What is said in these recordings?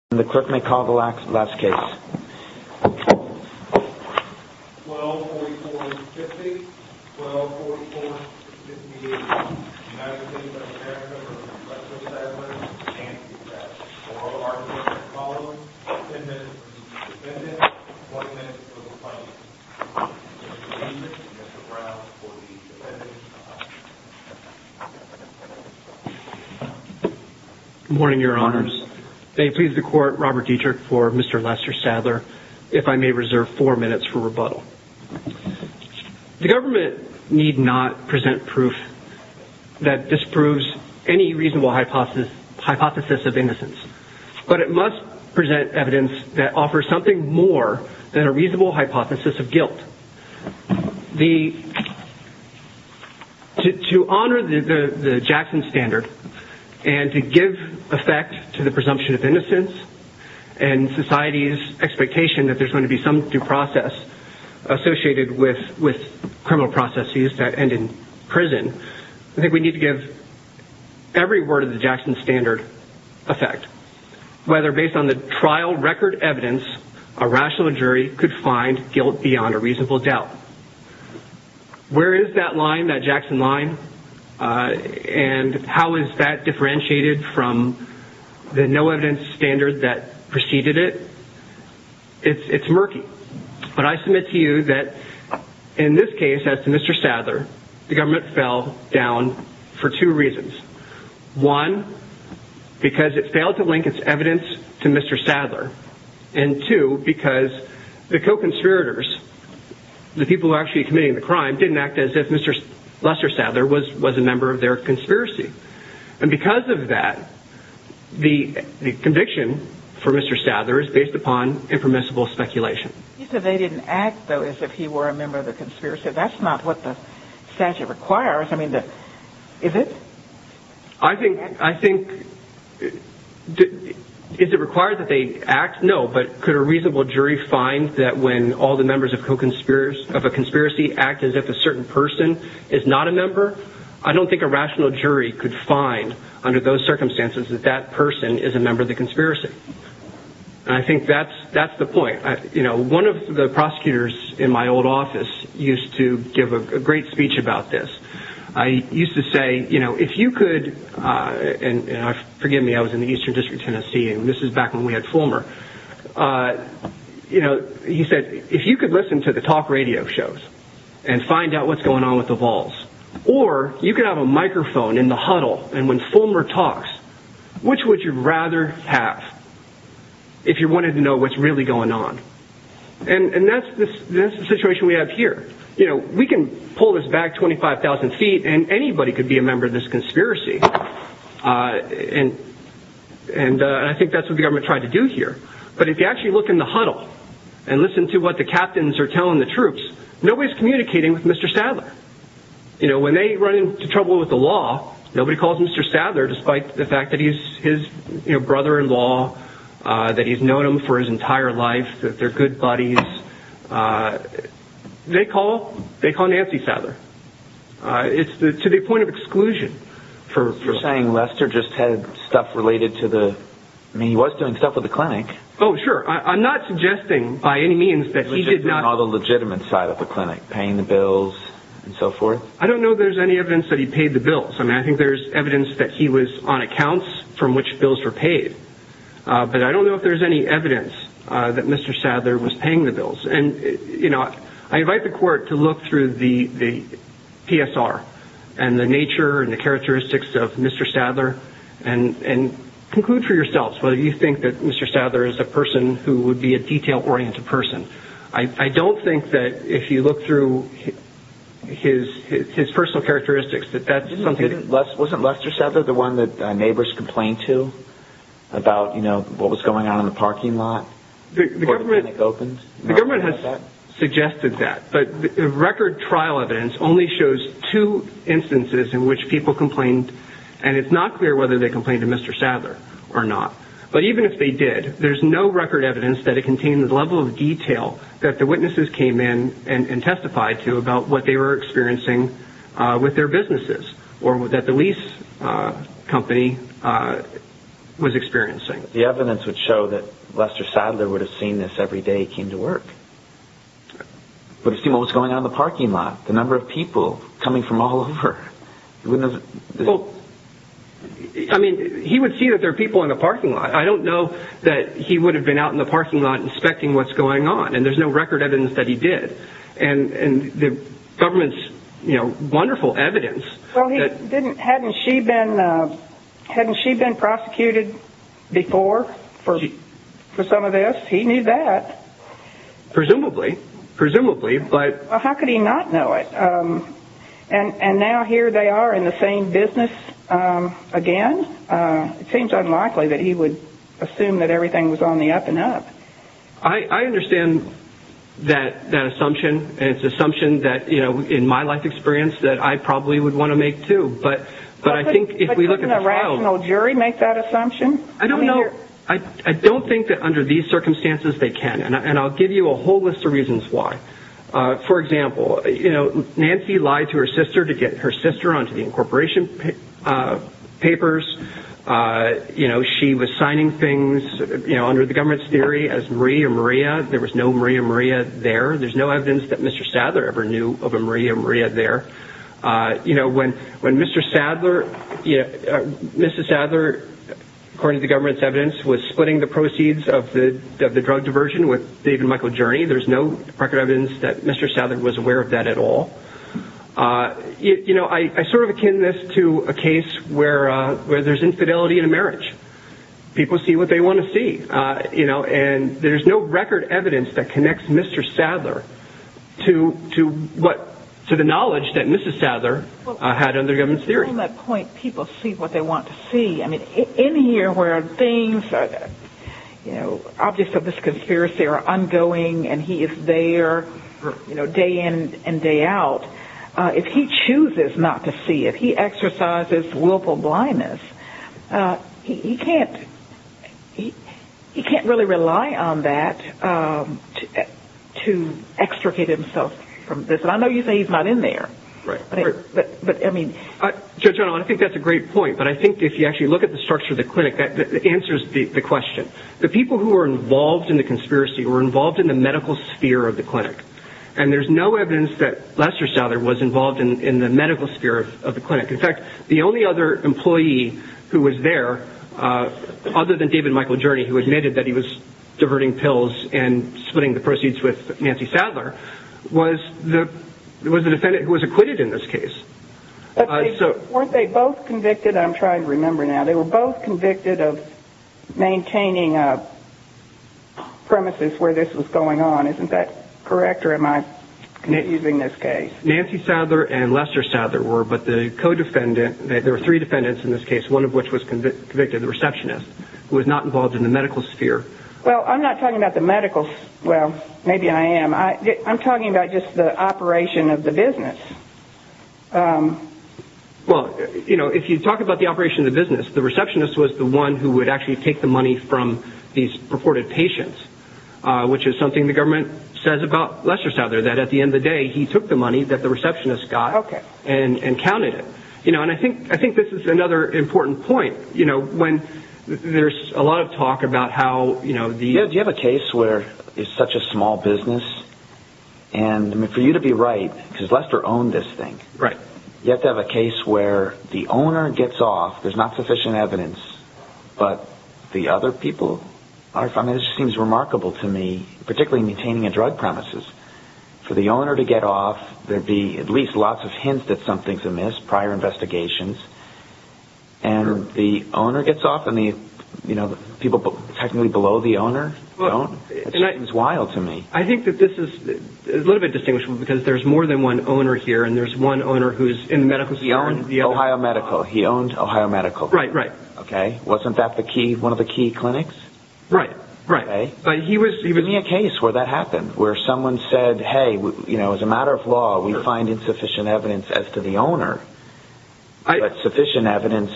1244-50, 1244-581, United States of America v. Leslie Sadler, Nancy Sadler, oral argument following, 10 minutes for the defendant, 20 minutes for the plaintiff. Mr. Leibniz, Mr. Brown, for the defendant. Good morning, your honors. May it please the court, Robert Dietrich for Mr. Lester Sadler, if I may reserve four minutes for rebuttal. The government need not present proof that disproves any reasonable hypothesis of innocence. But it must present evidence that offers something more than a reasonable hypothesis of guilt. To honor the Jackson standard and to give effect to the presumption of innocence and society's expectation that there's going to be some due process associated with criminal processes that end in prison, I think we need to give every word of the Jackson standard effect. Whether based on the trial record evidence, a rational jury could find guilt beyond a reasonable doubt. Where is that line, that Jackson line, and how is that differentiated from the no evidence standard that preceded it? It's murky. But I submit to you that in this case, as to Mr. Sadler, the government fell down for two reasons. One, because it failed to link its evidence to Mr. Sadler. And two, because the co-conspirators, the people who are actually committing the crime, didn't act as if Mr. Lester Sadler was a member of their conspiracy. And because of that, the conviction for Mr. Sadler is based upon impermissible speculation. He said they didn't act, though, as if he were a member of the conspiracy. That's not what the statute requires. I mean, is it? I think, is it required that they act? No. But could a reasonable jury find that when all the members of a conspiracy act as if a certain person is not a member? I don't think a rational jury could find, under those circumstances, that that person is a member of the conspiracy. And I think that's the point. You know, one of the prosecutors in my old office used to give a great speech about this. I used to say, you know, if you could, and forgive me, I was in the Eastern District, Tennessee, and this is back when we had Fulmer, you know, he said, if you could listen to the talk radio shows and find out what's going on with the Vols, or you could have a microphone in the huddle and when Fulmer talks, which would you rather have if you wanted to know what's really going on? And that's the situation we have here. You know, we can pull this back 25,000 feet and anybody could be a member of this conspiracy. And I think that's what the government tried to do here. But if you actually look in the huddle and listen to what the captains are telling the troops, nobody's communicating with Mr. Sadler. You know, when they run into trouble with the law, nobody calls Mr. Sadler, despite the fact that he's his brother-in-law, that he's known him for his entire life, that they're good buddies. They call Nancy Sadler. It's to the point of exclusion. You're saying Lester just had stuff related to the, I mean, he was doing stuff with the clinic. Oh, sure. I'm not suggesting by any means that he did not. What about on the legitimate side of the clinic, paying the bills and so forth? I don't know there's any evidence that he paid the bills. I mean, I think there's evidence that he was on accounts from which bills were paid. But I don't know if there's any evidence that Mr. Sadler was paying the bills. And, you know, I invite the court to look through the PSR and the nature and the characteristics of Mr. Sadler and conclude for yourselves whether you think that Mr. Sadler is a person who would be a detail-oriented person. I don't think that if you look through his personal characteristics that that's something. Wasn't Lester Sadler the one that neighbors complained to about, you know, what was going on in the parking lot before the clinic opened? The government has suggested that. But the record trial evidence only shows two instances in which people complained. And it's not clear whether they complained to Mr. Sadler or not. But even if they did, there's no record evidence that it contained the level of detail that the witnesses came in and testified to about what they were experiencing with their businesses or that the lease company was experiencing. The evidence would show that Lester Sadler would have seen this every day he came to work. Would have seen what was going on in the parking lot, the number of people coming from all over. Well, I mean, he would see that there are people in the parking lot. I don't know that he would have been out in the parking lot inspecting what's going on. And there's no record evidence that he did. And the government's, you know, wonderful evidence. Well, hadn't she been prosecuted before for some of this? He knew that. Presumably. Presumably. Well, how could he not know it? And now here they are in the same business again. It seems unlikely that he would assume that everything was on the up and up. I understand that assumption. And it's an assumption that, you know, in my life experience that I probably would want to make too. But I think if we look at the trial. But couldn't a rational jury make that assumption? I don't know. I don't think that under these circumstances they can. And I'll give you a whole list of reasons why. For example, you know, Nancy lied to her sister to get her sister onto the incorporation papers. You know, she was signing things, you know, under the government's theory as Marie and Maria. There was no Marie and Maria there. There's no evidence that Mr. Sadler ever knew of a Marie and Maria there. You know, when Mr. Sadler, Mrs. Sadler, according to the government's evidence, was splitting the proceeds of the drug diversion with David and Michael Journey, there's no record evidence that Mr. Sadler was aware of that at all. You know, I sort of akin this to a case where there's infidelity in a marriage. People see what they want to see, you know, and there's no record evidence that connects Mr. Sadler to the knowledge that Mrs. Sadler had under the government's theory. On that point, people see what they want to see. I mean, in here where things, you know, objects of this conspiracy are ongoing and he is there, you know, day in and day out, if he chooses not to see, if he exercises willful blindness, he can't really rely on that to extricate himself from this. And I know you say he's not in there, but, I mean. Judge Arnold, I think that's a great point, but I think if you actually look at the structure of the clinic, that answers the question. The people who were involved in the conspiracy were involved in the medical sphere of the clinic, and there's no evidence that Lester Sadler was involved in the medical sphere of the clinic. In fact, the only other employee who was there, other than David and Michael Journey, who admitted that he was diverting pills and splitting the proceeds with Nancy Sadler, was the defendant who was acquitted in this case. Weren't they both convicted? I'm trying to remember now. They were both convicted of maintaining premises where this was going on. Isn't that correct, or am I using this case? Nancy Sadler and Lester Sadler were, but the co-defendant, there were three defendants in this case, one of which was convicted, the receptionist, who was not involved in the medical sphere. Well, I'm not talking about the medical sphere. Well, maybe I am. I'm talking about just the operation of the business. Well, if you talk about the operation of the business, the receptionist was the one who would actually take the money from these purported patients, which is something the government says about Lester Sadler, that at the end of the day, he took the money that the receptionist got and counted it. I think this is another important point. There's a lot of talk about how the— Do you have a case where it's such a small business? For you to be right, because Lester owned this thing, you have to have a case where the owner gets off, there's not sufficient evidence, but the other people—this seems remarkable to me, particularly maintaining a drug premises. For the owner to get off, there'd be at least lots of hints that something's amiss, prior investigations, and the owner gets off, and the people technically below the owner don't. It seems wild to me. I think that this is a little bit distinguishable, because there's more than one owner here, and there's one owner who's in the medical sphere. He owned Ohio Medical. He owned Ohio Medical. Right, right. Okay? Wasn't that one of the key clinics? Right, right. Give me a case where that happened, where someone said, hey, as a matter of law, we find insufficient evidence as to the owner, but sufficient evidence—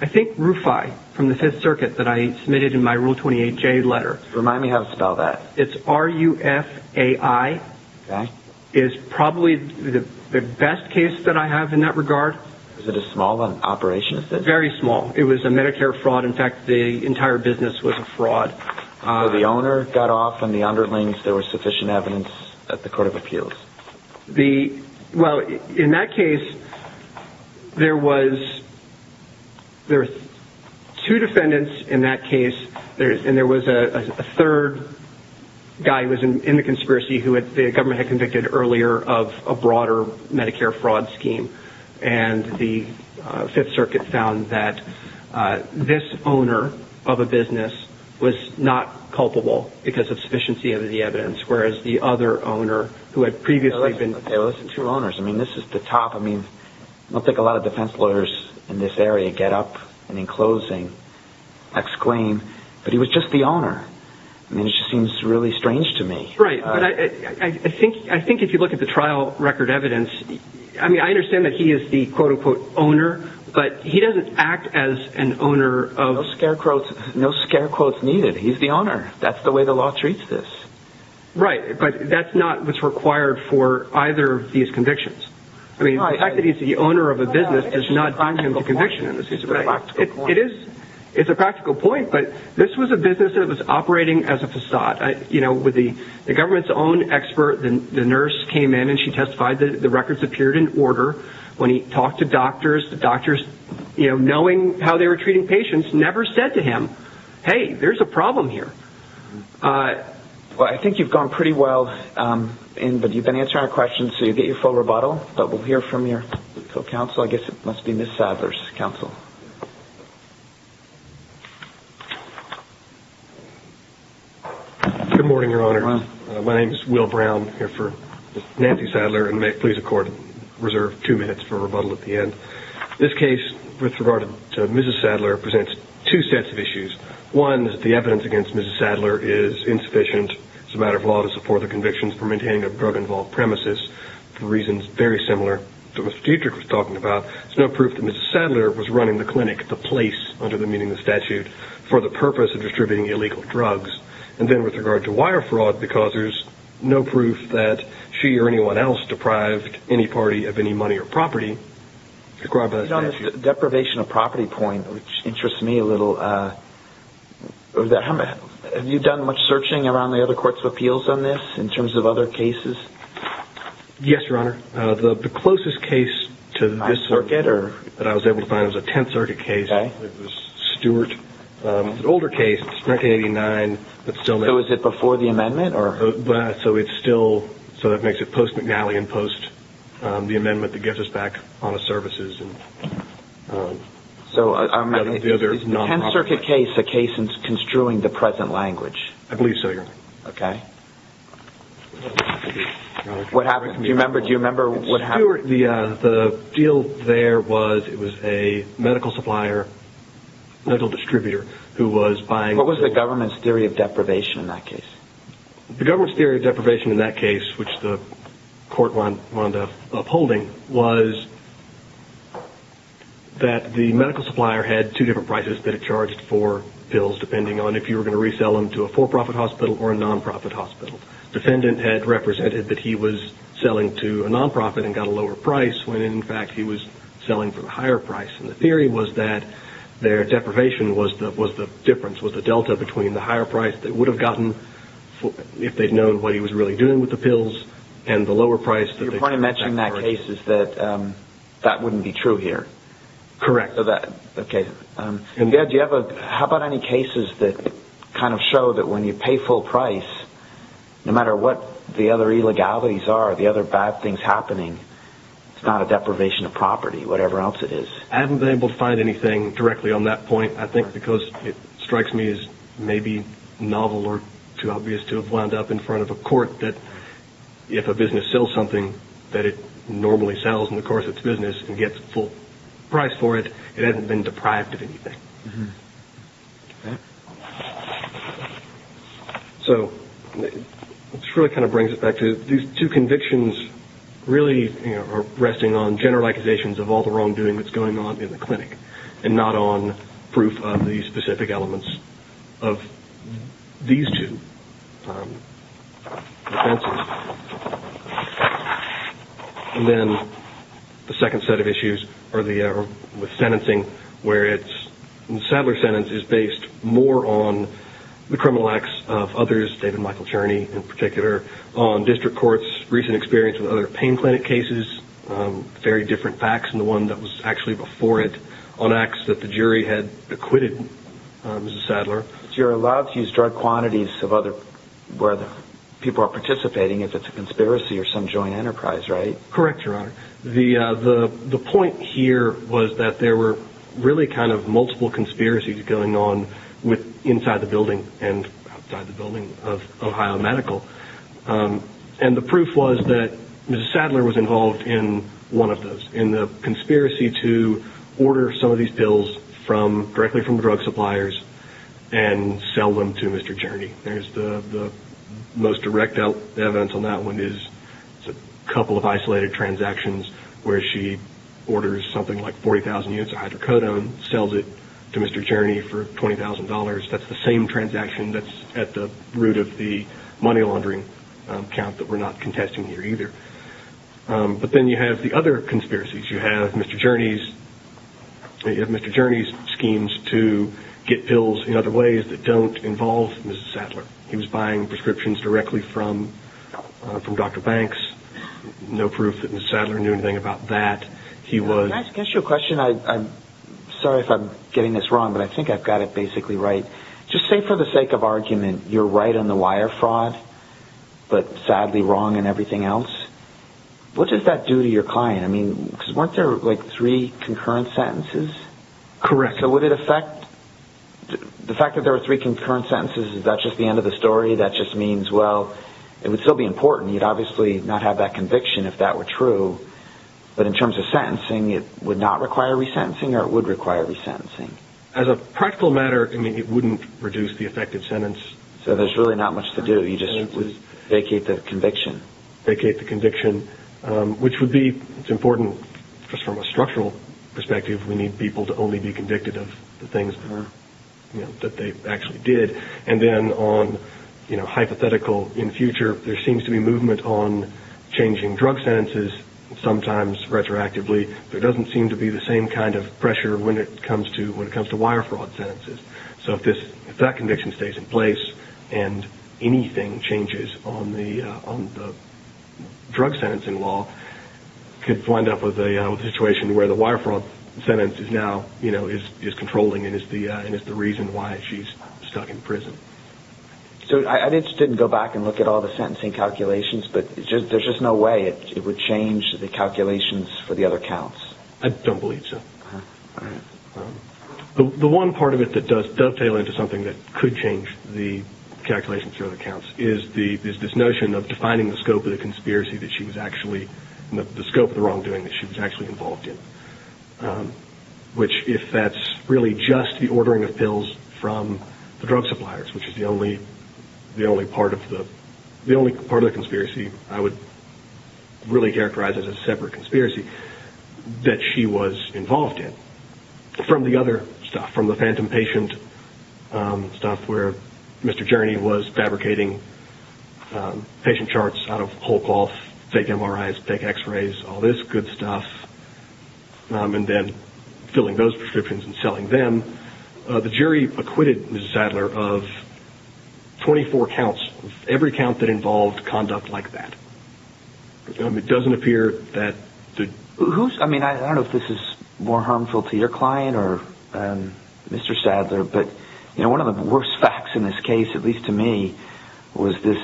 I think RUFAI, from the Fifth Circuit, that I submitted in my Rule 28J letter. Remind me how to spell that. It's R-U-F-A-I. Okay. It's probably the best case that I have in that regard. Is it a small operation? Very small. It was a Medicare fraud. In fact, the entire business was a fraud. Although the owner got off on the underlings, there was sufficient evidence at the court of appeals. Well, in that case, there were two defendants in that case, and there was a third guy who was in the conspiracy who the government had convicted earlier of a broader Medicare fraud scheme. And the Fifth Circuit found that this owner of a business was not culpable because of sufficiency of the evidence, whereas the other owner who had previously been— Hey, listen. Two owners. I mean, this is the top. I mean, I don't think a lot of defense lawyers in this area get up and, in closing, exclaim, but he was just the owner. I mean, it just seems really strange to me. Right. I think if you look at the trial record evidence, I mean, I understand that he is the quote-unquote owner, but he doesn't act as an owner of— No scare quotes needed. He's the owner. That's the way the law treats this. Right, but that's not what's required for either of these convictions. I mean, the fact that he's the owner of a business does not bind him to conviction. It's a practical point. It is. It's a practical point, but this was a business that was operating as a facade. The government's own expert, the nurse, came in, and she testified that the records appeared in order. When he talked to doctors, the doctors, knowing how they were treating patients, never said to him, hey, there's a problem here. Well, I think you've gone pretty well, but you've been answering our questions, so you get your full rebuttal, but we'll hear from your co-counsel. I guess it must be Ms. Sadler's counsel. Good morning, Your Honors. My name is Will Brown, here for Nancy Sadler, and may it please the Court, reserve two minutes for rebuttal at the end. This case, with regard to Mrs. Sadler, presents two sets of issues. One, the evidence against Mrs. Sadler is insufficient. It's a matter of law to support the convictions for maintaining a drug-involved premises for reasons very similar to what Mr. Dietrich was talking about. There's no proof that Mrs. Sadler was running the clinic, the place, under the meaning of the statute, for the purpose of distributing illegal drugs. And then, with regard to wire fraud, because there's no proof that she or anyone else deprived any party of any money or property, deprived by the statute. On this deprivation of property point, which interests me a little, have you done much searching around the other courts of appeals on this, in terms of other cases? Yes, Your Honor. The closest case to this that I was able to find was a Tenth Circuit case. It was Stewart. It's an older case. It's 1989. So is it before the amendment? So that makes it post-McNally and post-the amendment that gets us back on the services. Is the Tenth Circuit case a case in construing the present language? I believe so, Your Honor. Okay. What happened? Do you remember what happened? Stewart, the deal there was, it was a medical supplier, medical distributor, who was buying... What was the government's theory of deprivation in that case? The government's theory of deprivation in that case, which the court wound up upholding, was that the medical supplier had two different prices that it charged for pills, depending on if you were going to resell them to a for-profit hospital or a non-profit hospital. The defendant had represented that he was selling to a non-profit and got a lower price, when in fact he was selling for a higher price. And the theory was that their deprivation was the difference, was the delta between the higher price they would have gotten if they'd known what he was really doing with the pills and the lower price that they charged. You're probably mentioning in that case that that wouldn't be true here. Correct. Okay. How about any cases that kind of show that when you pay full price, no matter what the other illegalities are, the other bad things happening, it's not a deprivation of property, whatever else it is. I haven't been able to find anything directly on that point, I think because it strikes me as maybe novel or too obvious to have wound up in front of a court that if a business sells something that it normally sells in the course of its business and gets full price for it, it hasn't been deprived of anything. So this really kind of brings it back to these two convictions really are resting on general accusations of all the wrongdoing that's going on in the clinic and not on proof of the specific elements of these two offenses. And then the second set of issues are with sentencing, where Sadler's sentence is based more on the criminal acts of others, David Michael Cherney in particular, on district courts, recent experience with other pain clinic cases, very different facts than the one that was actually before it, on acts that the jury had acquitted Mrs. Sadler. So you're allowed to use drug quantities where people are participating if it's a conspiracy or some joint enterprise, right? Correct, Your Honor. The point here was that there were really kind of multiple conspiracies going on inside the building and outside the building of Ohio Medical. And the proof was that Mrs. Sadler was involved in one of those, in the conspiracy to order some of these pills directly from drug suppliers and sell them to Mr. Cherney. The most direct evidence on that one is a couple of isolated transactions where she orders something like 40,000 units of hydrocodone, sells it to Mr. Cherney for $20,000. That's the same transaction that's at the root of the money laundering account that we're not contesting here either. But then you have the other conspiracies. You have Mr. Cherney's schemes to get pills in other ways that don't involve Mrs. Sadler. He was buying prescriptions directly from Dr. Banks. No proof that Mrs. Sadler knew anything about that. Can I ask you a question? Sorry if I'm getting this wrong, but I think I've got it basically right. Just say for the sake of argument, you're right on the wire fraud, but sadly wrong in everything else. What does that do to your client? I mean, weren't there like three concurrent sentences? Correct. So would it affect? The fact that there were three concurrent sentences, is that just the end of the story? That just means, well, it would still be important. You'd obviously not have that conviction if that were true. But in terms of sentencing, it would not require resentencing or it would require resentencing? As a practical matter, I mean, it wouldn't reduce the effect of sentence. So there's really not much to do. You just vacate the conviction. Vacate the conviction, which would be important just from a structural perspective. We need people to only be convicted of the things that they actually did. And then on hypothetical in future, there seems to be movement on changing drug sentences. Sometimes retroactively, there doesn't seem to be the same kind of pressure when it comes to wire fraud sentences. So if that conviction stays in place and anything changes on the drug sentencing law, you could wind up with a situation where the wire fraud sentence is now controlling and is the reason why she's stuck in prison. So I'd be interested to go back and look at all the sentencing calculations, but there's just no way it would change the calculations for the other counts? I don't believe so. The one part of it that does dovetail into something that could change the calculations for other counts is this notion of defining the scope of the conspiracy that she was actually, the scope of the wrongdoing that she was actually involved in, which if that's really just the ordering of pills from the drug suppliers, which is the only part of the conspiracy I would really characterize as a separate conspiracy, that she was involved in. From the other stuff, from the phantom patient stuff, where Mr. Gerney was fabricating patient charts out of whole cloth, fake MRIs, fake x-rays, all this good stuff, and then filling those prescriptions and selling them, the jury acquitted Mrs. Sadler of 24 counts, every count that involved conduct like that. It doesn't appear that... I don't know if this is more harmful to your client or Mr. Sadler, but one of the worst facts in this case, at least to me, was this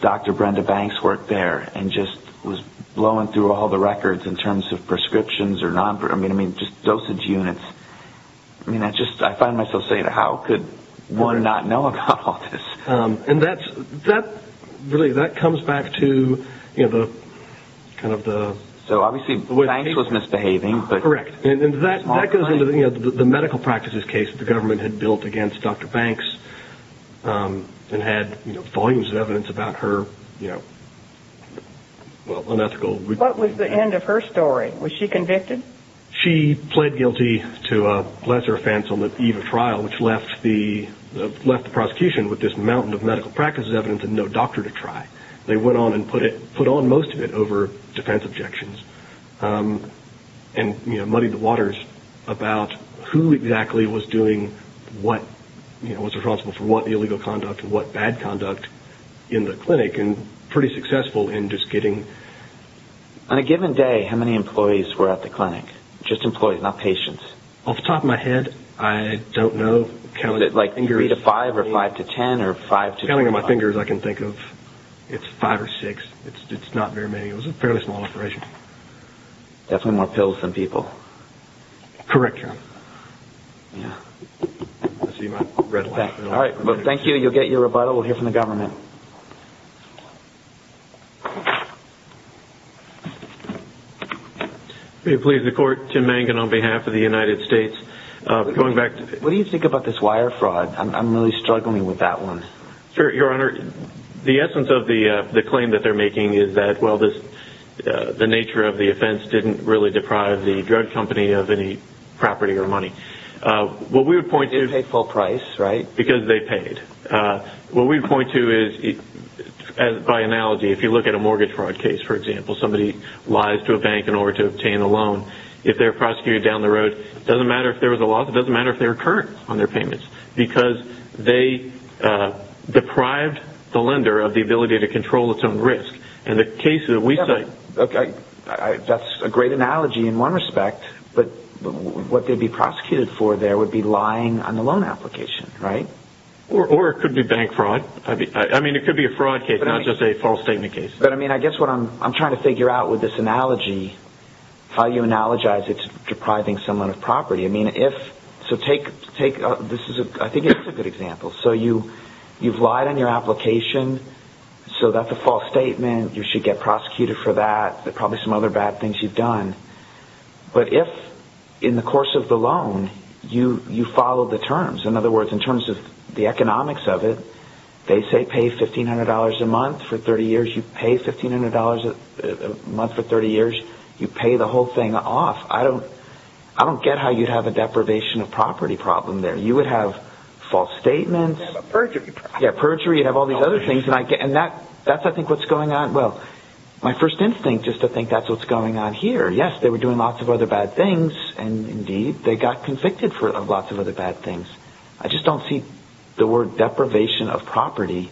Dr. Brenda Banks work there and just was blowing through all the records in terms of prescriptions or just dosage units. I find myself saying, how could one not know about all this? That comes back to the... So obviously Banks was misbehaving. Correct. That goes into the medical practices case the government had built against Dr. Banks and had volumes of evidence about her unethical... What was the end of her story? Was she convicted? She pled guilty to a lesser offense on the eve of trial, which left the prosecution with this mountain of medical practices evidence and no doctor to try. They went on and put on most of it over defense objections and muddied the waters about who exactly was doing what, was responsible for what illegal conduct and what bad conduct in the clinic and pretty successful in just getting... On a given day, how many employees were at the clinic? Just employees, not patients. Off the top of my head, I don't know. Was it like 3 to 5 or 5 to 10 or 5 to 12? Counting on my fingers, I can think of, it's 5 or 6. It's not very many. It was a fairly small operation. Definitely more pills than people. Correct, Your Honor. I see my red light. All right. Well, thank you. You'll get your rebuttal. We'll hear from the government. Thank you. May it please the Court, Tim Mangan on behalf of the United States. What do you think about this wire fraud? I'm really struggling with that one. Sure, Your Honor. The essence of the claim that they're making is that, well, the nature of the offense didn't really deprive the drug company of any property or money. What we would point to is... They paid full price, right? Because they paid. What we would point to is, by analogy, if you look at a mortgage fraud case, for example, somebody lies to a bank in order to obtain a loan, if they're prosecuted down the road, it doesn't matter if there was a loss. It doesn't matter if they were current on their payments because they deprived the lender of the ability to control its own risk. In the case that we cite... That's a great analogy in one respect, but what they'd be prosecuted for there would be lying on the loan application, right? Or it could be bank fraud. I mean, it could be a fraud case, not just a false statement case. But, I mean, I guess what I'm trying to figure out with this analogy, how you analogize it to depriving someone of property. I mean, if... So take... This is a... I think it's a good example. So you've lied on your application, so that's a false statement. You should get prosecuted for that. There are probably some other bad things you've done. But if, in the course of the loan, you follow the terms. In other words, in terms of the economics of it, they say pay $1,500 a month for 30 years. You pay $1,500 a month for 30 years. You pay the whole thing off. I don't get how you'd have a deprivation of property problem there. You would have false statements. You'd have a perjury problem. Yeah, perjury. You'd have all these other things. And that's, I think, what's going on. Well, my first instinct is to think that's what's going on here. Yes, they were doing lots of other bad things, and, indeed, they got convicted for lots of other bad things. I just don't see the word deprivation of property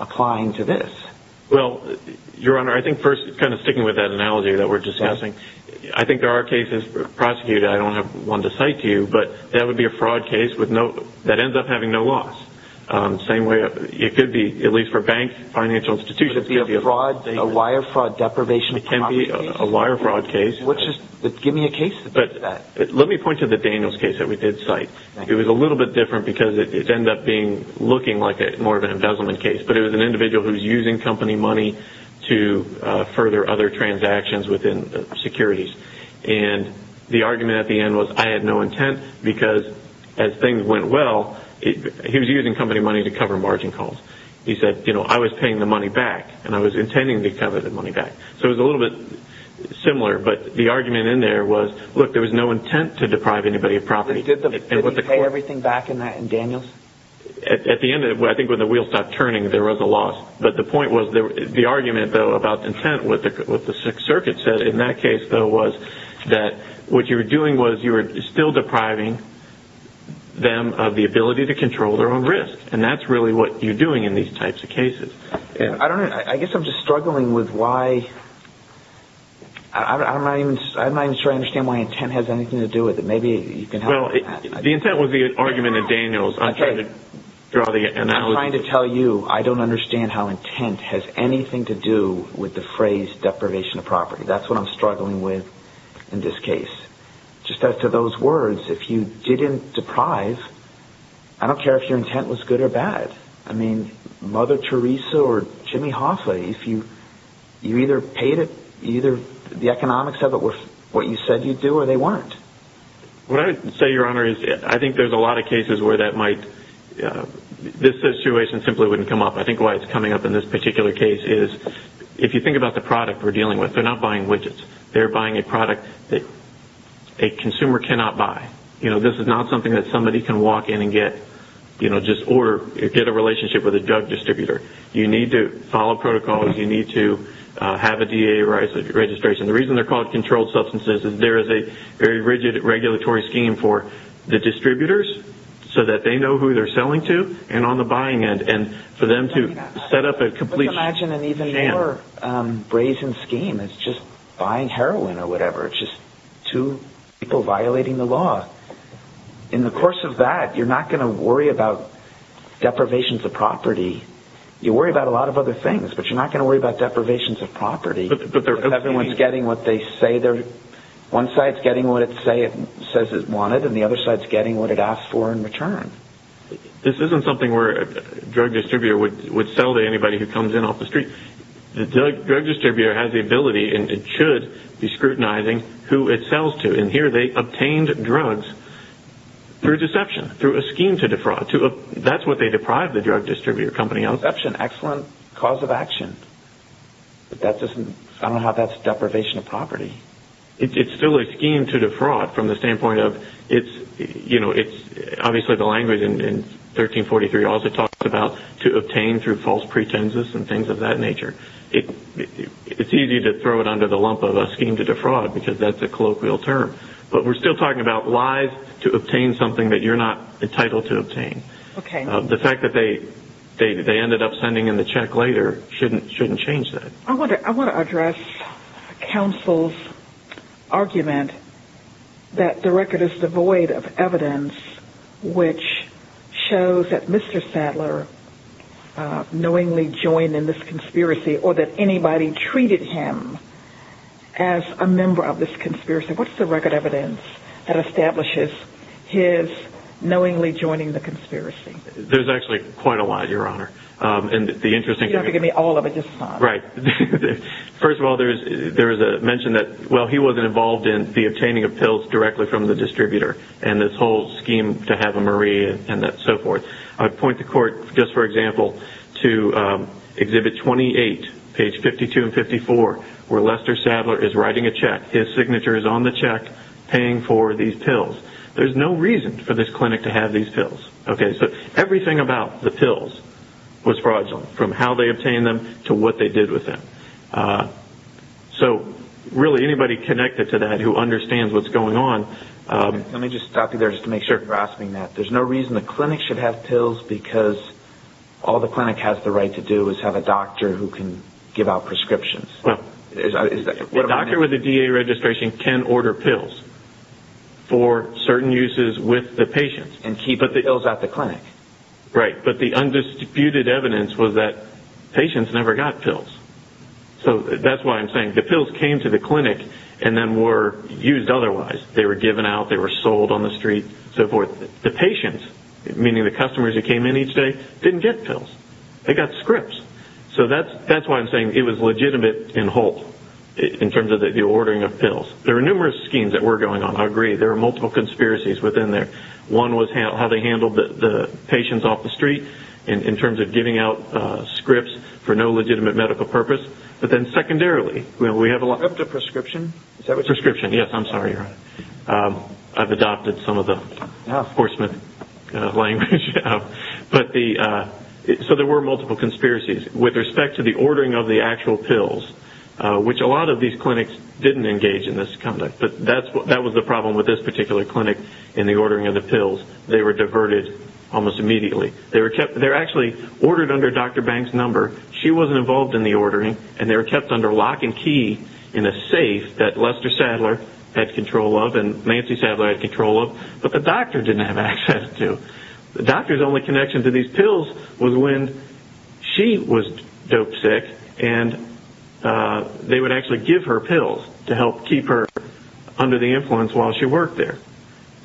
applying to this. Well, Your Honor, I think first, kind of sticking with that analogy that we're discussing, I think there are cases prosecuted. I don't have one to cite to you, but that would be a fraud case that ends up having no loss. Same way it could be, at least for banks, financial institutions. Could it be a wire fraud deprivation of property case? It can be a wire fraud case. Give me a case that does that. Let me point to the Daniels case that we did cite. It was a little bit different because it ended up looking like more of an embezzlement case, but it was an individual who was using company money to further other transactions within securities. And the argument at the end was I had no intent because, as things went well, he was using company money to cover margin calls. He said, you know, I was paying the money back and I was intending to cover the money back. So it was a little bit similar, but the argument in there was, look, there was no intent to deprive anybody of property. Did he pay everything back in Daniels? At the end, I think when the wheels stopped turning, there was a loss. But the point was the argument, though, about intent, what the Sixth Circuit said in that case, though, was that what you were doing was you were still depriving them of the ability to control their own risk, and that's really what you're doing in these types of cases. I guess I'm just struggling with why... I'm not even sure I understand why intent has anything to do with it. Maybe you can help me with that. The intent was the argument in Daniels. I'm trying to draw the analogy. I'm trying to tell you I don't understand how intent has anything to do with the phrase deprivation of property. That's what I'm struggling with in this case. Just as to those words, if you didn't deprive, I don't care if your intent was good or bad. I mean, Mother Teresa or Jimmy Hoffa, if you either paid it, either the economics of it were what you said you'd do or they weren't. What I would say, Your Honor, is I think there's a lot of cases where that might... This situation simply wouldn't come up. I think why it's coming up in this particular case is if you think about the product we're dealing with, they're not buying widgets. They're buying a product that a consumer cannot buy. This is not something that somebody can walk in and get or get a relationship with a drug distributor. You need to follow protocols. You need to have a DA registration. The reason they're called controlled substances is there is a very rigid regulatory scheme for the distributors so that they know who they're selling to and on the buying end and for them to set up a complete... Let's imagine an even more brazen scheme. It's just buying heroin or whatever. It's just two people violating the law. In the course of that, you're not going to worry about deprivations of property. You worry about a lot of other things, but you're not going to worry about deprivations of property if everyone's getting what they say they're... One side's getting what it says it wanted and the other side's getting what it asks for in return. This isn't something where a drug distributor would sell to anybody who comes in off the street. The drug distributor has the ability, and it should be scrutinizing, who it sells to. Here they obtained drugs through deception, through a scheme to defraud. That's what they deprive the drug distributor company of. Deception, excellent cause of action. I don't know how that's deprivation of property. It's still a scheme to defraud from the standpoint of... Obviously, the language in 1343 also talks about to obtain through false pretenses and things of that nature. It's easy to throw it under the lump of a scheme to defraud because that's a colloquial term. But we're still talking about lies to obtain something that you're not entitled to obtain. The fact that they ended up sending in the check later shouldn't change that. I want to address counsel's argument that the record is devoid of evidence which shows that Mr. Sadler knowingly joined in this conspiracy or that anybody treated him as a member of this conspiracy. What's the record evidence that establishes his knowingly joining the conspiracy? There's actually quite a lot, Your Honor. You don't have to give me all of it, just some. Right. First of all, there was a mention that, well, he wasn't involved in the obtaining of pills directly from the distributor and this whole scheme to have a Marie and so forth. I'd point the court, just for example, to Exhibit 28, page 52 and 54, where Lester Sadler is writing a check. His signature is on the check paying for these pills. There's no reason for this clinic to have these pills. Everything about the pills was fraudulent, from how they obtained them to what they did with them. Really, anybody connected to that who understands what's going on... Let me just stop you there just to make sure you're grasping that. There's no reason the clinic should have pills because all the clinic has the right to do is have a doctor who can give out prescriptions. The doctor with the DA registration can order pills for certain uses with the patients. And keep the pills at the clinic. Right, but the undistributed evidence was that patients never got pills. That's why I'm saying the pills came to the clinic and then were used otherwise. They were given out, they were sold on the street, so forth. The patients, meaning the customers who came in each day, didn't get pills. They got scripts. So that's why I'm saying it was legitimate in Holt in terms of the ordering of pills. There were numerous schemes that were going on, I agree. There were multiple conspiracies within there. One was how they handled the patients off the street in terms of giving out scripts for no legitimate medical purpose. But then secondarily, we have a lot... Prescription, yes, I'm sorry. I've adopted some of the horseman language. So there were multiple conspiracies. With respect to the ordering of the actual pills, which a lot of these clinics didn't engage in this conduct. But that was the problem with this particular clinic in the ordering of the pills. They were diverted almost immediately. They were actually ordered under Dr. Bank's number. She wasn't involved in the ordering. And they were kept under lock and key in a safe that Lester Sadler had control of and Nancy Sadler had control of, but the doctor didn't have access to. The doctor's only connection to these pills was when she was dope sick, and they would actually give her pills to help keep her under the influence while she worked there.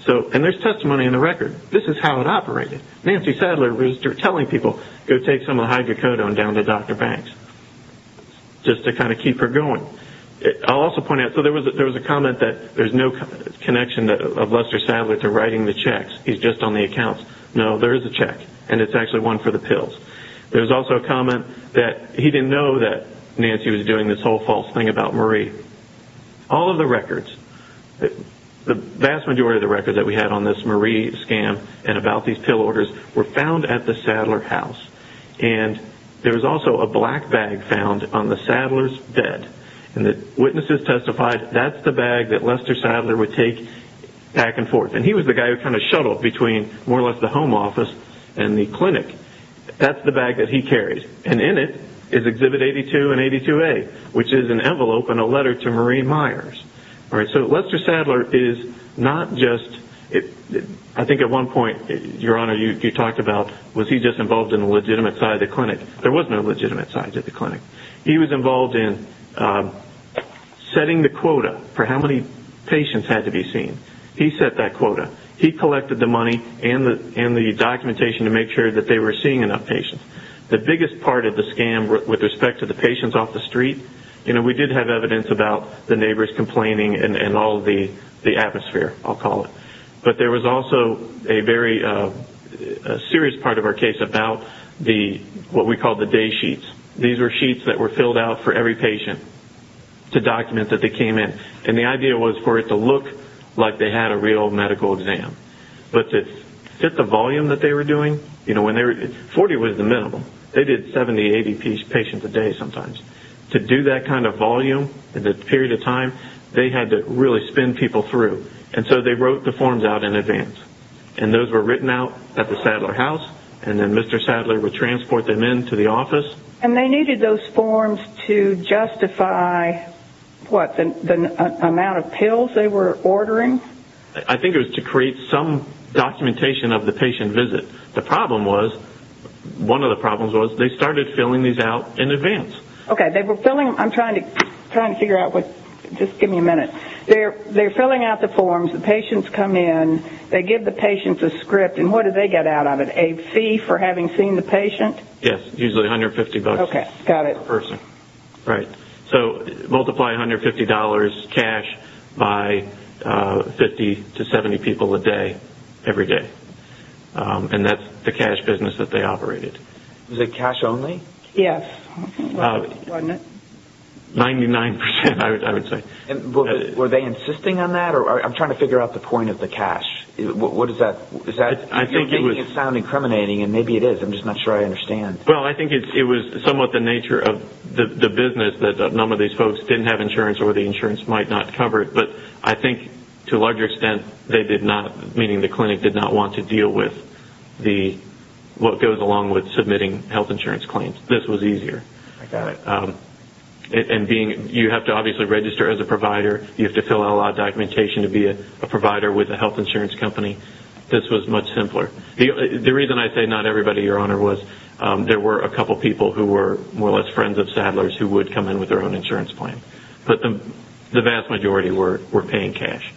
And there's testimony in the record. This is how it operated. Nancy Sadler was telling people, go take some of the hydrocodone down to Dr. Bank's just to kind of keep her going. I'll also point out, so there was a comment that there's no connection of Lester Sadler to writing the checks, he's just on the accounts. No, there is a check, and it's actually one for the pills. There was also a comment that he didn't know that Nancy was doing this whole false thing about Marie. All of the records, the vast majority of the records that we had on this Marie scam and about these pill orders were found at the Sadler house. And there was also a black bag found on the Sadler's bed. And the witnesses testified that that's the bag that Lester Sadler would take back and forth. And he was the guy who kind of shuttled between more or less the home office and the clinic. That's the bag that he carried. And in it is Exhibit 82 and 82A, which is an envelope and a letter to Marie Myers. So Lester Sadler is not just... I think at one point, Your Honor, you talked about, was he just involved in the legitimate side of the clinic? There was no legitimate side to the clinic. He was involved in setting the quota for how many patients had to be seen. He set that quota. He collected the money and the documentation to make sure that they were seeing enough patients. The biggest part of the scam with respect to the patients off the street, we did have evidence about the neighbors complaining and all the atmosphere, I'll call it. But there was also a very serious part of our case about what we called the day sheets. These were sheets that were filled out for every patient to document that they came in. And the idea was for it to look like they had a real medical exam. But to fit the volume that they were doing, 40 was the minimum. They did 70, 80 patients a day sometimes. To do that kind of volume in that period of time, they had to really spin people through. And so they wrote the forms out in advance. And those were written out at the Sadler House. And then Mr. Sadler would transport them in to the office. And they needed those forms to justify, what, the amount of pills they were ordering? I think it was to create some documentation of the patient visit. The problem was, one of the problems was, they started filling these out in advance. I'm trying to figure out what... Just give me a minute. They're filling out the forms. The patients come in. They give the patients a script. And what do they get out of it? A fee for having seen the patient? Yes, usually $150 per person. Okay, got it. Right. So multiply $150 cash by 50 to 70 people a day, every day. And that's the cash business that they operated. Was it cash only? Yes, wasn't it? 99%, I would say. Were they insisting on that? I'm trying to figure out the point of the cash. What is that? You're making it sound incriminating, and maybe it is. I'm just not sure I understand. Well, I think it was somewhat the nature of the business that none of these folks didn't have insurance or the insurance might not cover it. But I think, to a larger extent, they did not, meaning the clinic did not want to deal with what goes along with submitting health insurance claims. This was easier. I got it. You have to obviously register as a provider. You have to fill out a lot of documentation to be a provider with a health insurance company. This was much simpler. The reason I say not everybody, Your Honor, was there were a couple people who were more or less friends of Sadler's who would come in with their own insurance plan. But the vast majority were paying cash.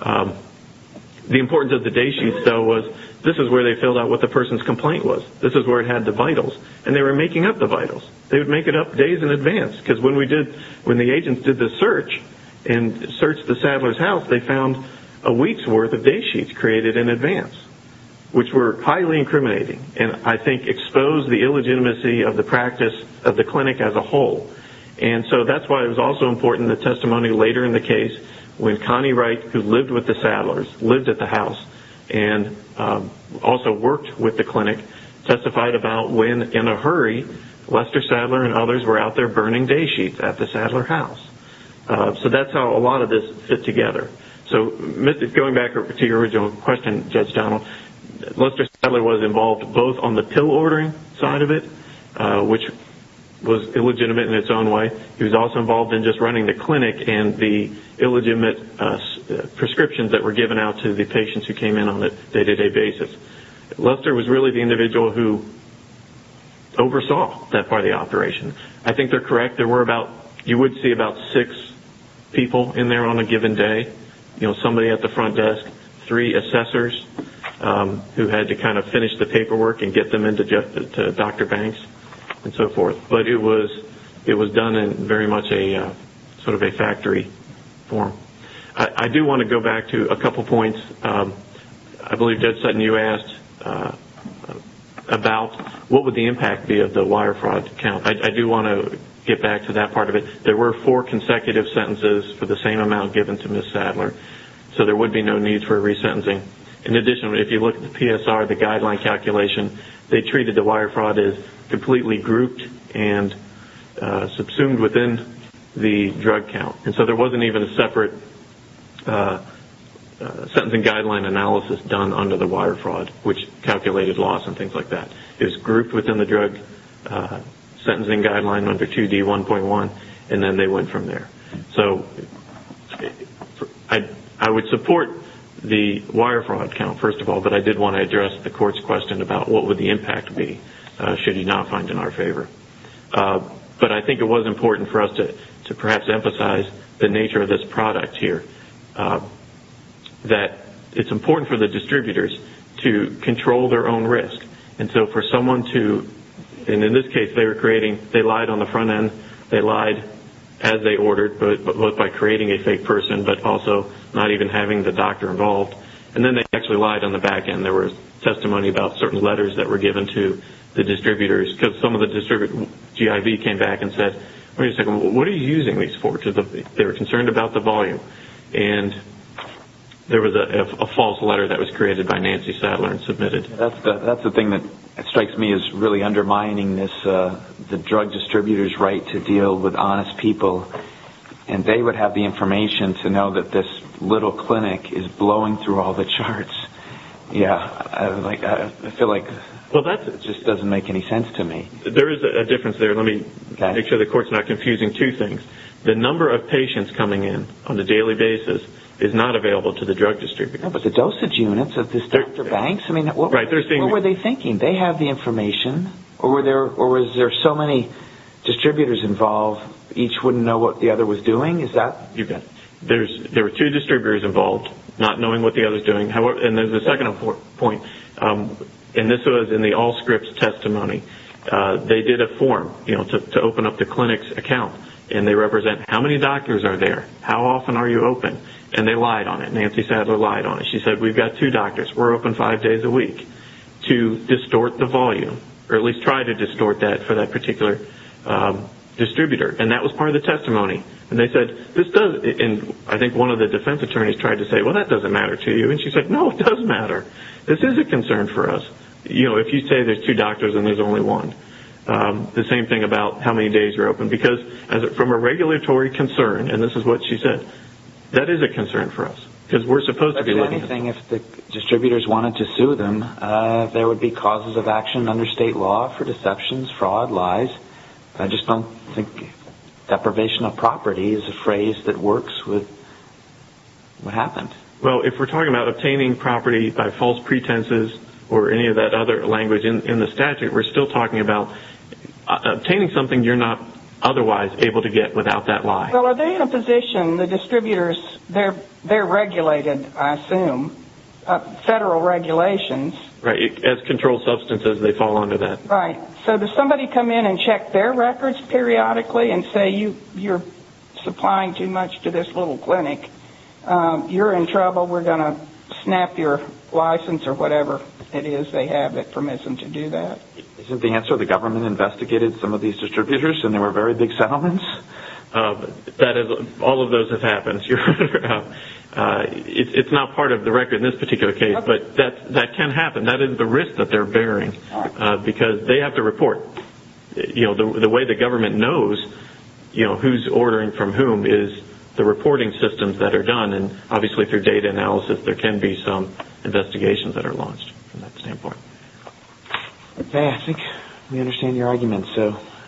The importance of the day sheets, though, was this is where they filled out what the person's complaint was. This is where it had the vitals. And they were making up the vitals. They would make it up days in advance. Because when the agents did the search and searched the Sadler's house, they found a week's worth of day sheets created in advance, which were highly incriminating and, I think, exposed the illegitimacy of the practice of the clinic as a whole. And so that's why it was also important, the testimony later in the case, when Connie Wright, who lived with the Sadlers, lived at the house and also worked with the clinic, testified about when, in a hurry, Lester Sadler and others were out there burning day sheets at the Sadler house. So that's how a lot of this fit together. So going back to your original question, Judge Donald, Lester Sadler was involved both on the pill ordering side of it, which was illegitimate in its own way. He was also involved in just running the clinic and the illegitimate prescriptions that were given out to the patients who came in on a day-to-day basis. Lester was really the individual who oversaw that part of the operation. I think they're correct. You would see about six people in there on a given day, somebody at the front desk, three assessors who had to kind of finish the paperwork and get them in to Dr. Banks and so forth. But it was done in very much sort of a factory form. I do want to go back to a couple points. I believe, Judge Sutton, you asked about what would the impact be of the wire fraud count. I do want to get back to that part of it. There were four consecutive sentences for the same amount given to Ms. Sadler, so there would be no need for resentencing. In addition, if you look at the PSR, the guideline calculation, they treated the wire fraud as completely grouped and subsumed within the drug count. There wasn't even a separate sentencing guideline analysis done under the wire fraud, which calculated loss and things like that. It was grouped within the drug sentencing guideline under 2D1.1, and then they went from there. I would support the wire fraud count, first of all, but I did want to address the Court's question about what would the impact be, should you not find in our favor. I think it was important for us to perhaps emphasize the nature of this product here. It's important for the distributors to control their own risk. In this case, they lied on the front end. They lied as they ordered, both by creating a fake person but also not even having the doctor involved. Then they actually lied on the back end. There was testimony about certain letters that were given to the distributors because some of the distributors, GIV came back and said, wait a second, what are you using these for? They were concerned about the volume. There was a false letter that was created by Nancy Sadler and submitted. That's the thing that strikes me as really undermining the drug distributor's right to deal with honest people. They would have the information to know that this little clinic is blowing through all the charts. I feel like it just doesn't make any sense to me. There is a difference there. Let me make sure the court's not confusing two things. The number of patients coming in on a daily basis is not available to the drug distributor. But the dosage units of this Dr. Banks, what were they thinking? They have the information, or was there so many distributors involved each wouldn't know what the other was doing? There were two distributors involved not knowing what the other was doing. There's a second point. This was in the all-scripts testimony. They did a form to open up the clinic's account. They represent how many doctors are there, how often are you open? They lied on it. Nancy Sadler lied on it. She said we've got two doctors, we're open five days a week to distort the volume, or at least try to distort that for that particular distributor. That was part of the testimony. I think one of the defense attorneys tried to say, well, that doesn't matter to you. She said, no, it does matter. This is a concern for us. If you say there's two doctors and there's only one. The same thing about how many days you're open. Because from a regulatory concern, and this is what she said, that is a concern for us. If the distributors wanted to sue them, there would be causes of action under state law for deceptions, fraud, lies, I just don't think deprivation of property is a phrase that works with what happened. If we're talking about obtaining property by false pretenses or any of that other language in the statute, we're still talking about obtaining something you're not otherwise able to get without that lie. Are they in a position, the distributors, they're regulated, I assume, federal regulations. As controlled substances, they fall under that. Right, so does somebody come in and check their records periodically and say you're supplying too much to this little clinic, you're in trouble, we're going to snap your license or whatever it is they have that permits them to do that? Isn't the answer the government investigated some of these distributors and they were very big settlements? All of those have happened. It's not part of the record in this particular case, but that can happen. That is the risk that they're bearing because they have to report. The way the government knows who's ordering from whom is the reporting systems that are done. Obviously, through data analysis, there can be some investigations that are launched from that standpoint. Okay, I think we understand your argument.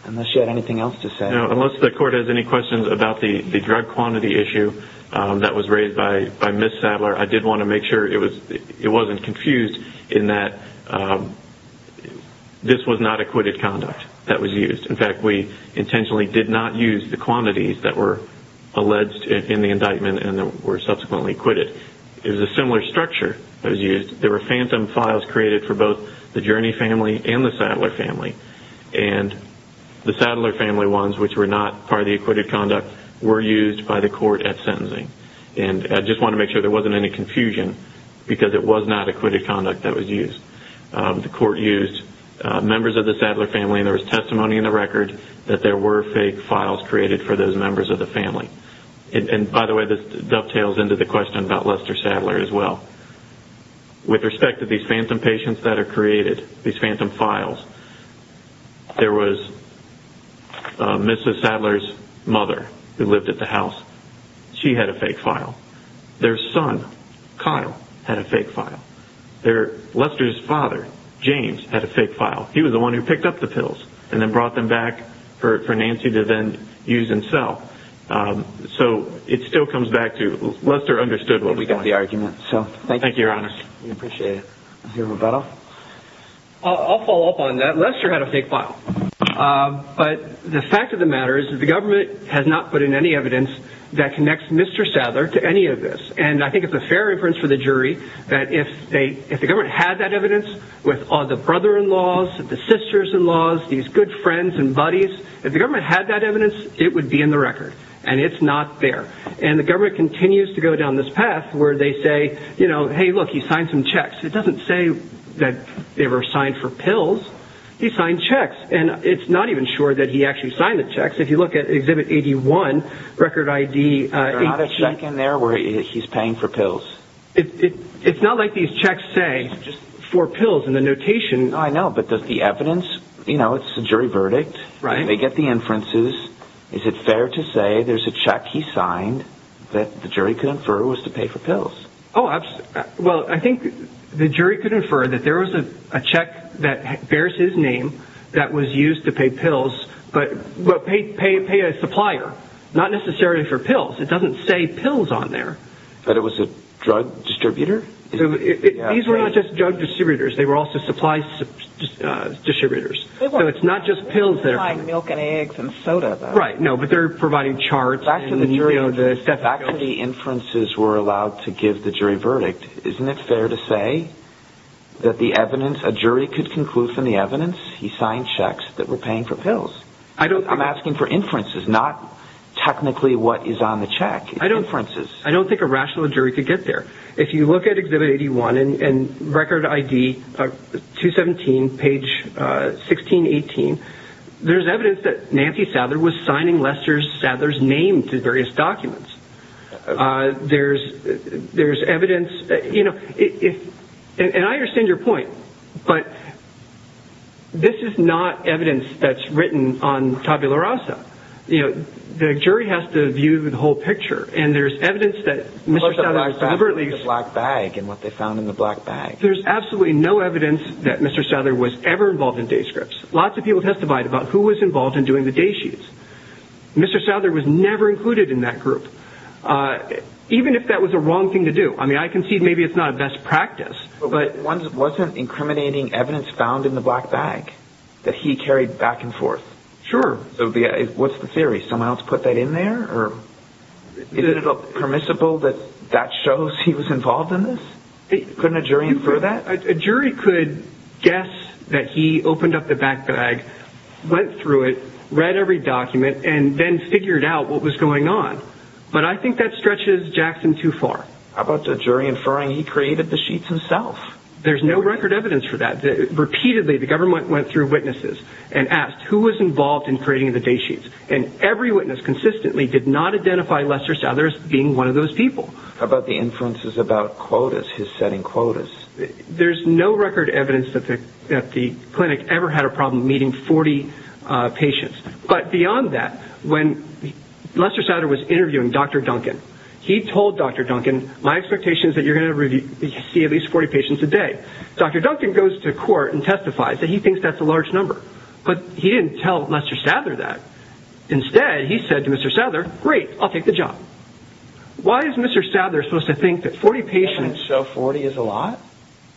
Unless you had anything else to say. Unless the court has any questions about the drug quantity issue that was raised by Ms. Sadler, I did want to make sure it wasn't confused in that this was not acquitted conduct that was used. In fact, we intentionally did not use the quantities that were alleged in the indictment and that were subsequently acquitted. It was a similar structure that was used. There were phantom files created for both the Journey family and the Sadler family. And the Sadler family ones, which were not part of the acquitted conduct, were used by the court at sentencing. I just wanted to make sure there wasn't any confusion because it was not acquitted conduct that was used. The court used members of the Sadler family and there was testimony in the record that there were fake files created for those members of the family. By the way, this dovetails into the question about Lester Sadler as well. With respect to these phantom patients that are created, these phantom files, there was Mrs. Sadler's mother who lived at the house. She had a fake file. Their son, Kyle, had a fake file. Lester's father, James, had a fake file. He was the one who picked up the pills and then brought them back for Nancy to then use and sell. So it still comes back to Lester understood what was going on. We got the argument. Thank you, Your Honor. We appreciate it. Is there a rebuttal? I'll follow up on that. Lester had a fake file. But the fact of the matter is that the government has not put in any evidence that connects Mr. Sadler to any of this. And I think it's a fair inference for the jury that if the government had that evidence with all the brother-in-laws, the sisters-in-laws, these good friends and buddies, if the government had that evidence, it would be in the record. And it's not there. And the government continues to go down this path where they say, you know, hey, look, he signed some checks. It doesn't say that they were signed for pills. He signed checks. And it's not even sure that he actually signed the checks. If you look at Exhibit 81, Record ID. Is there not a check in there where he's paying for pills? It's not like these checks say for pills in the notation. I know, but does the evidence, you know, it's a jury verdict. They get the inferences. Is it fair to say there's a check he signed that the jury could infer was to pay for pills? Well, I think the jury could infer that there was a check that bears his name that was used to pay pills. But pay a supplier. Not necessarily for pills. It doesn't say pills on there. But it was a drug distributor? These were not just drug distributors. They were also supply distributors. So it's not just pills there. Milk and eggs and soda, though. Right, no, but they're providing charts. Back to the jury. Back to the inferences we're allowed to give the jury verdict. Isn't it fair to say that the evidence, a jury could conclude from the evidence he signed checks that were paying for pills? I'm asking for inferences, not technically what is on the check. Inferences. I don't think a rational jury could get there. If you look at Exhibit 81 and Record ID 217, page 1618, there's evidence that Nancy Sather was signing Lester Sather's name to various documents. There's evidence, you know, and I understand your point, but this is not evidence that's written on Tabula Rasa. You know, the jury has to view the whole picture, and there's evidence that Mr. Sather deliberately... Plus the black bag and what they found in the black bag. There's absolutely no evidence that Mr. Sather was ever involved in day scripts. Lots of people testified about who was involved in doing the day sheets. Mr. Sather was never included in that group, even if that was the wrong thing to do. I mean, I concede maybe it's not a best practice, but... Wasn't incriminating evidence found in the black bag that he carried back and forth? Sure. What's the theory? Someone else put that in there? Is it permissible that that shows he was involved in this? Couldn't a jury infer that? A jury could guess that he opened up the black bag, went through it, read every document, and then figured out what was going on. But I think that stretches Jackson too far. How about the jury inferring he created the sheets himself? There's no record evidence for that. Repeatedly, the government went through witnesses and asked who was involved in creating the day sheets, and every witness consistently did not identify Lester Sather as being one of those people. How about the inferences about quotas, his setting quotas? There's no record evidence that the clinic ever had a problem meeting 40 patients. But beyond that, when Lester Sather was interviewing Dr. Duncan, he told Dr. Duncan, my expectation is that you're going to see at least 40 patients a day. Dr. Duncan goes to court and testifies that he thinks that's a large number. But he didn't tell Lester Sather that. Instead, he said to Mr. Sather, great, I'll take the job. Why is Mr. Sather supposed to think that 40 patients... So 40 is a lot?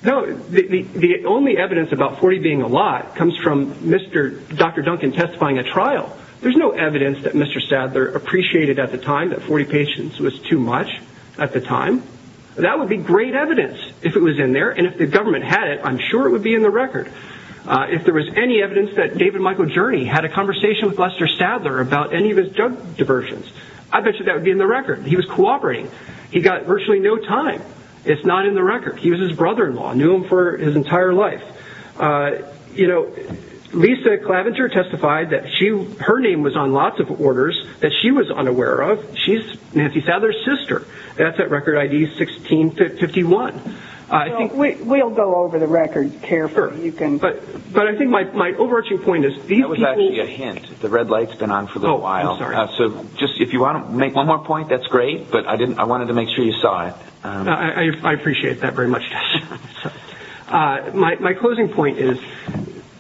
No, the only evidence about 40 being a lot comes from Dr. Duncan testifying at trial. There's no evidence that Mr. Sather appreciated at the time that 40 patients was too much at the time. That would be great evidence if it was in there, and if the government had it, I'm sure it would be in the record. If there was any evidence that David Michael Jurney had a conversation with Lester Sather about any of his drug diversions, I bet you that would be in the record. He was cooperating. He got virtually no time. It's not in the record. He was his brother-in-law, knew him for his entire life. You know, Lisa Clavenger testified that her name was on lots of orders that she was unaware of. She's Nancy Sather's sister. That's at record ID 1651. We'll go over the record carefully. But I think my overarching point is these people... That was actually a hint. The red light's been on for a little while. Oh, I'm sorry. So just if you want to make one more point, that's great, but I wanted to make sure you saw it. I appreciate that very much. My closing point is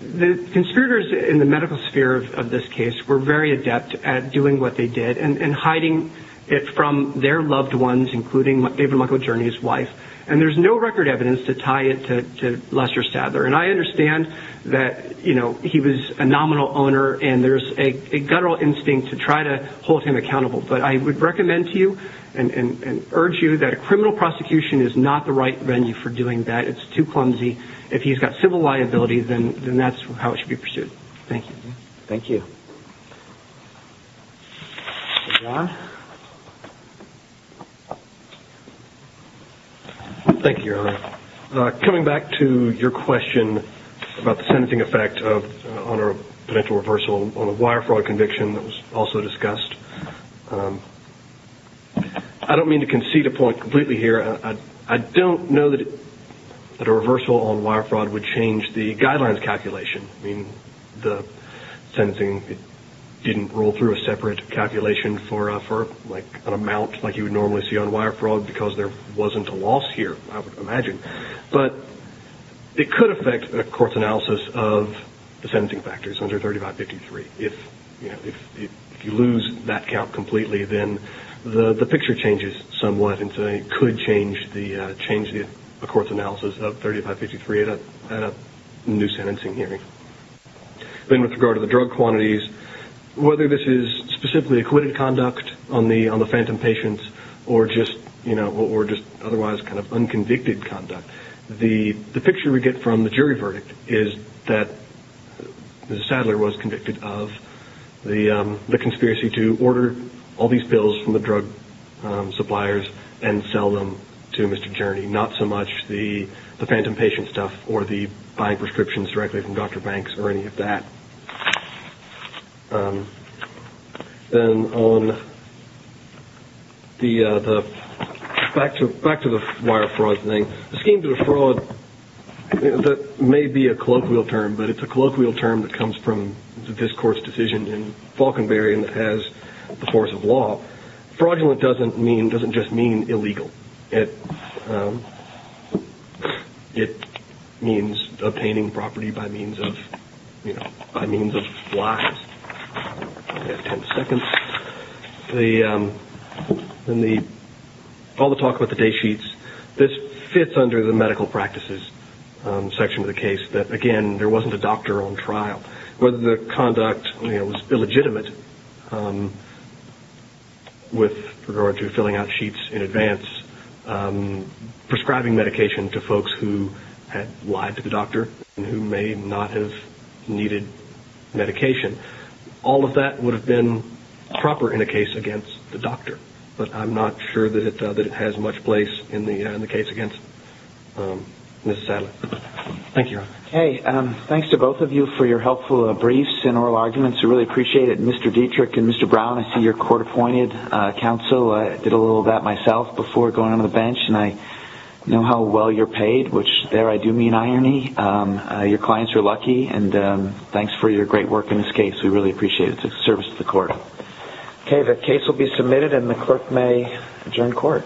the conspirators in the medical sphere of this case were very adept at doing what they did and hiding it from their loved ones, including David Michael Jurney's wife. And there's no record evidence to tie it to Lester Sather. And I understand that, you know, he was a nominal owner and there's a guttural instinct to try to hold him accountable, but I would recommend to you and urge you that a criminal prosecution is not the right venue for doing that. It's too clumsy. If he's got civil liability, then that's how it should be pursued. Thank you. Thank you. Thank you. Coming back to your question about the sentencing effect on a potential reversal on a wire fraud conviction that was also discussed, I don't mean to concede a point completely here. I don't know that a reversal on wire fraud would change the guidelines calculation. I mean, the sentencing didn't roll through a separate calculation for an amount like you would normally see on wire fraud because there wasn't a loss here, I would imagine. But it could affect a court's analysis of the sentencing factors under 3553. If you lose that count completely, then the picture changes somewhat and so it could change the court's analysis of 3553 at a new sentencing hearing. Then with regard to the drug quantities, whether this is specifically acquitted conduct on the phantom patients or just otherwise kind of unconvicted conduct, the picture we get from the jury verdict is that Mr. Sadler was convicted of the conspiracy to order all these pills from the drug suppliers and sell them to Mr. Journey, not so much the phantom patient stuff or the buying prescriptions directly from Dr. Banks or any of that. Then back to the wire fraud thing, a scheme to a fraud that may be a colloquial term, but it's a colloquial term that comes from this court's decision in Falkenberry and has the force of law. Fraudulent doesn't just mean illegal. It means obtaining property by means of lies. We have ten seconds. In all the talk about the day sheets, this fits under the medical practices section of the case, that again, there wasn't a doctor on trial. Whether the conduct was illegitimate with regard to filling out sheets in advance, prescribing medication to folks who had lied to the doctor and who may not have needed medication, all of that would have been proper in a case against the doctor, but I'm not sure that it has much place in the case against Mr. Sadler. Thank you. Okay, thanks to both of you for your helpful briefs and oral arguments. We really appreciate it. Mr. Dietrich and Mr. Brown, I see you're court-appointed counsel. I did a little of that myself before going on the bench, and I know how well you're paid, which there I do mean irony. Your clients are lucky, and thanks for your great work in this case. We really appreciate it. It's a service to the court. Okay, the case will be submitted, and the clerk may adjourn court. Thank you.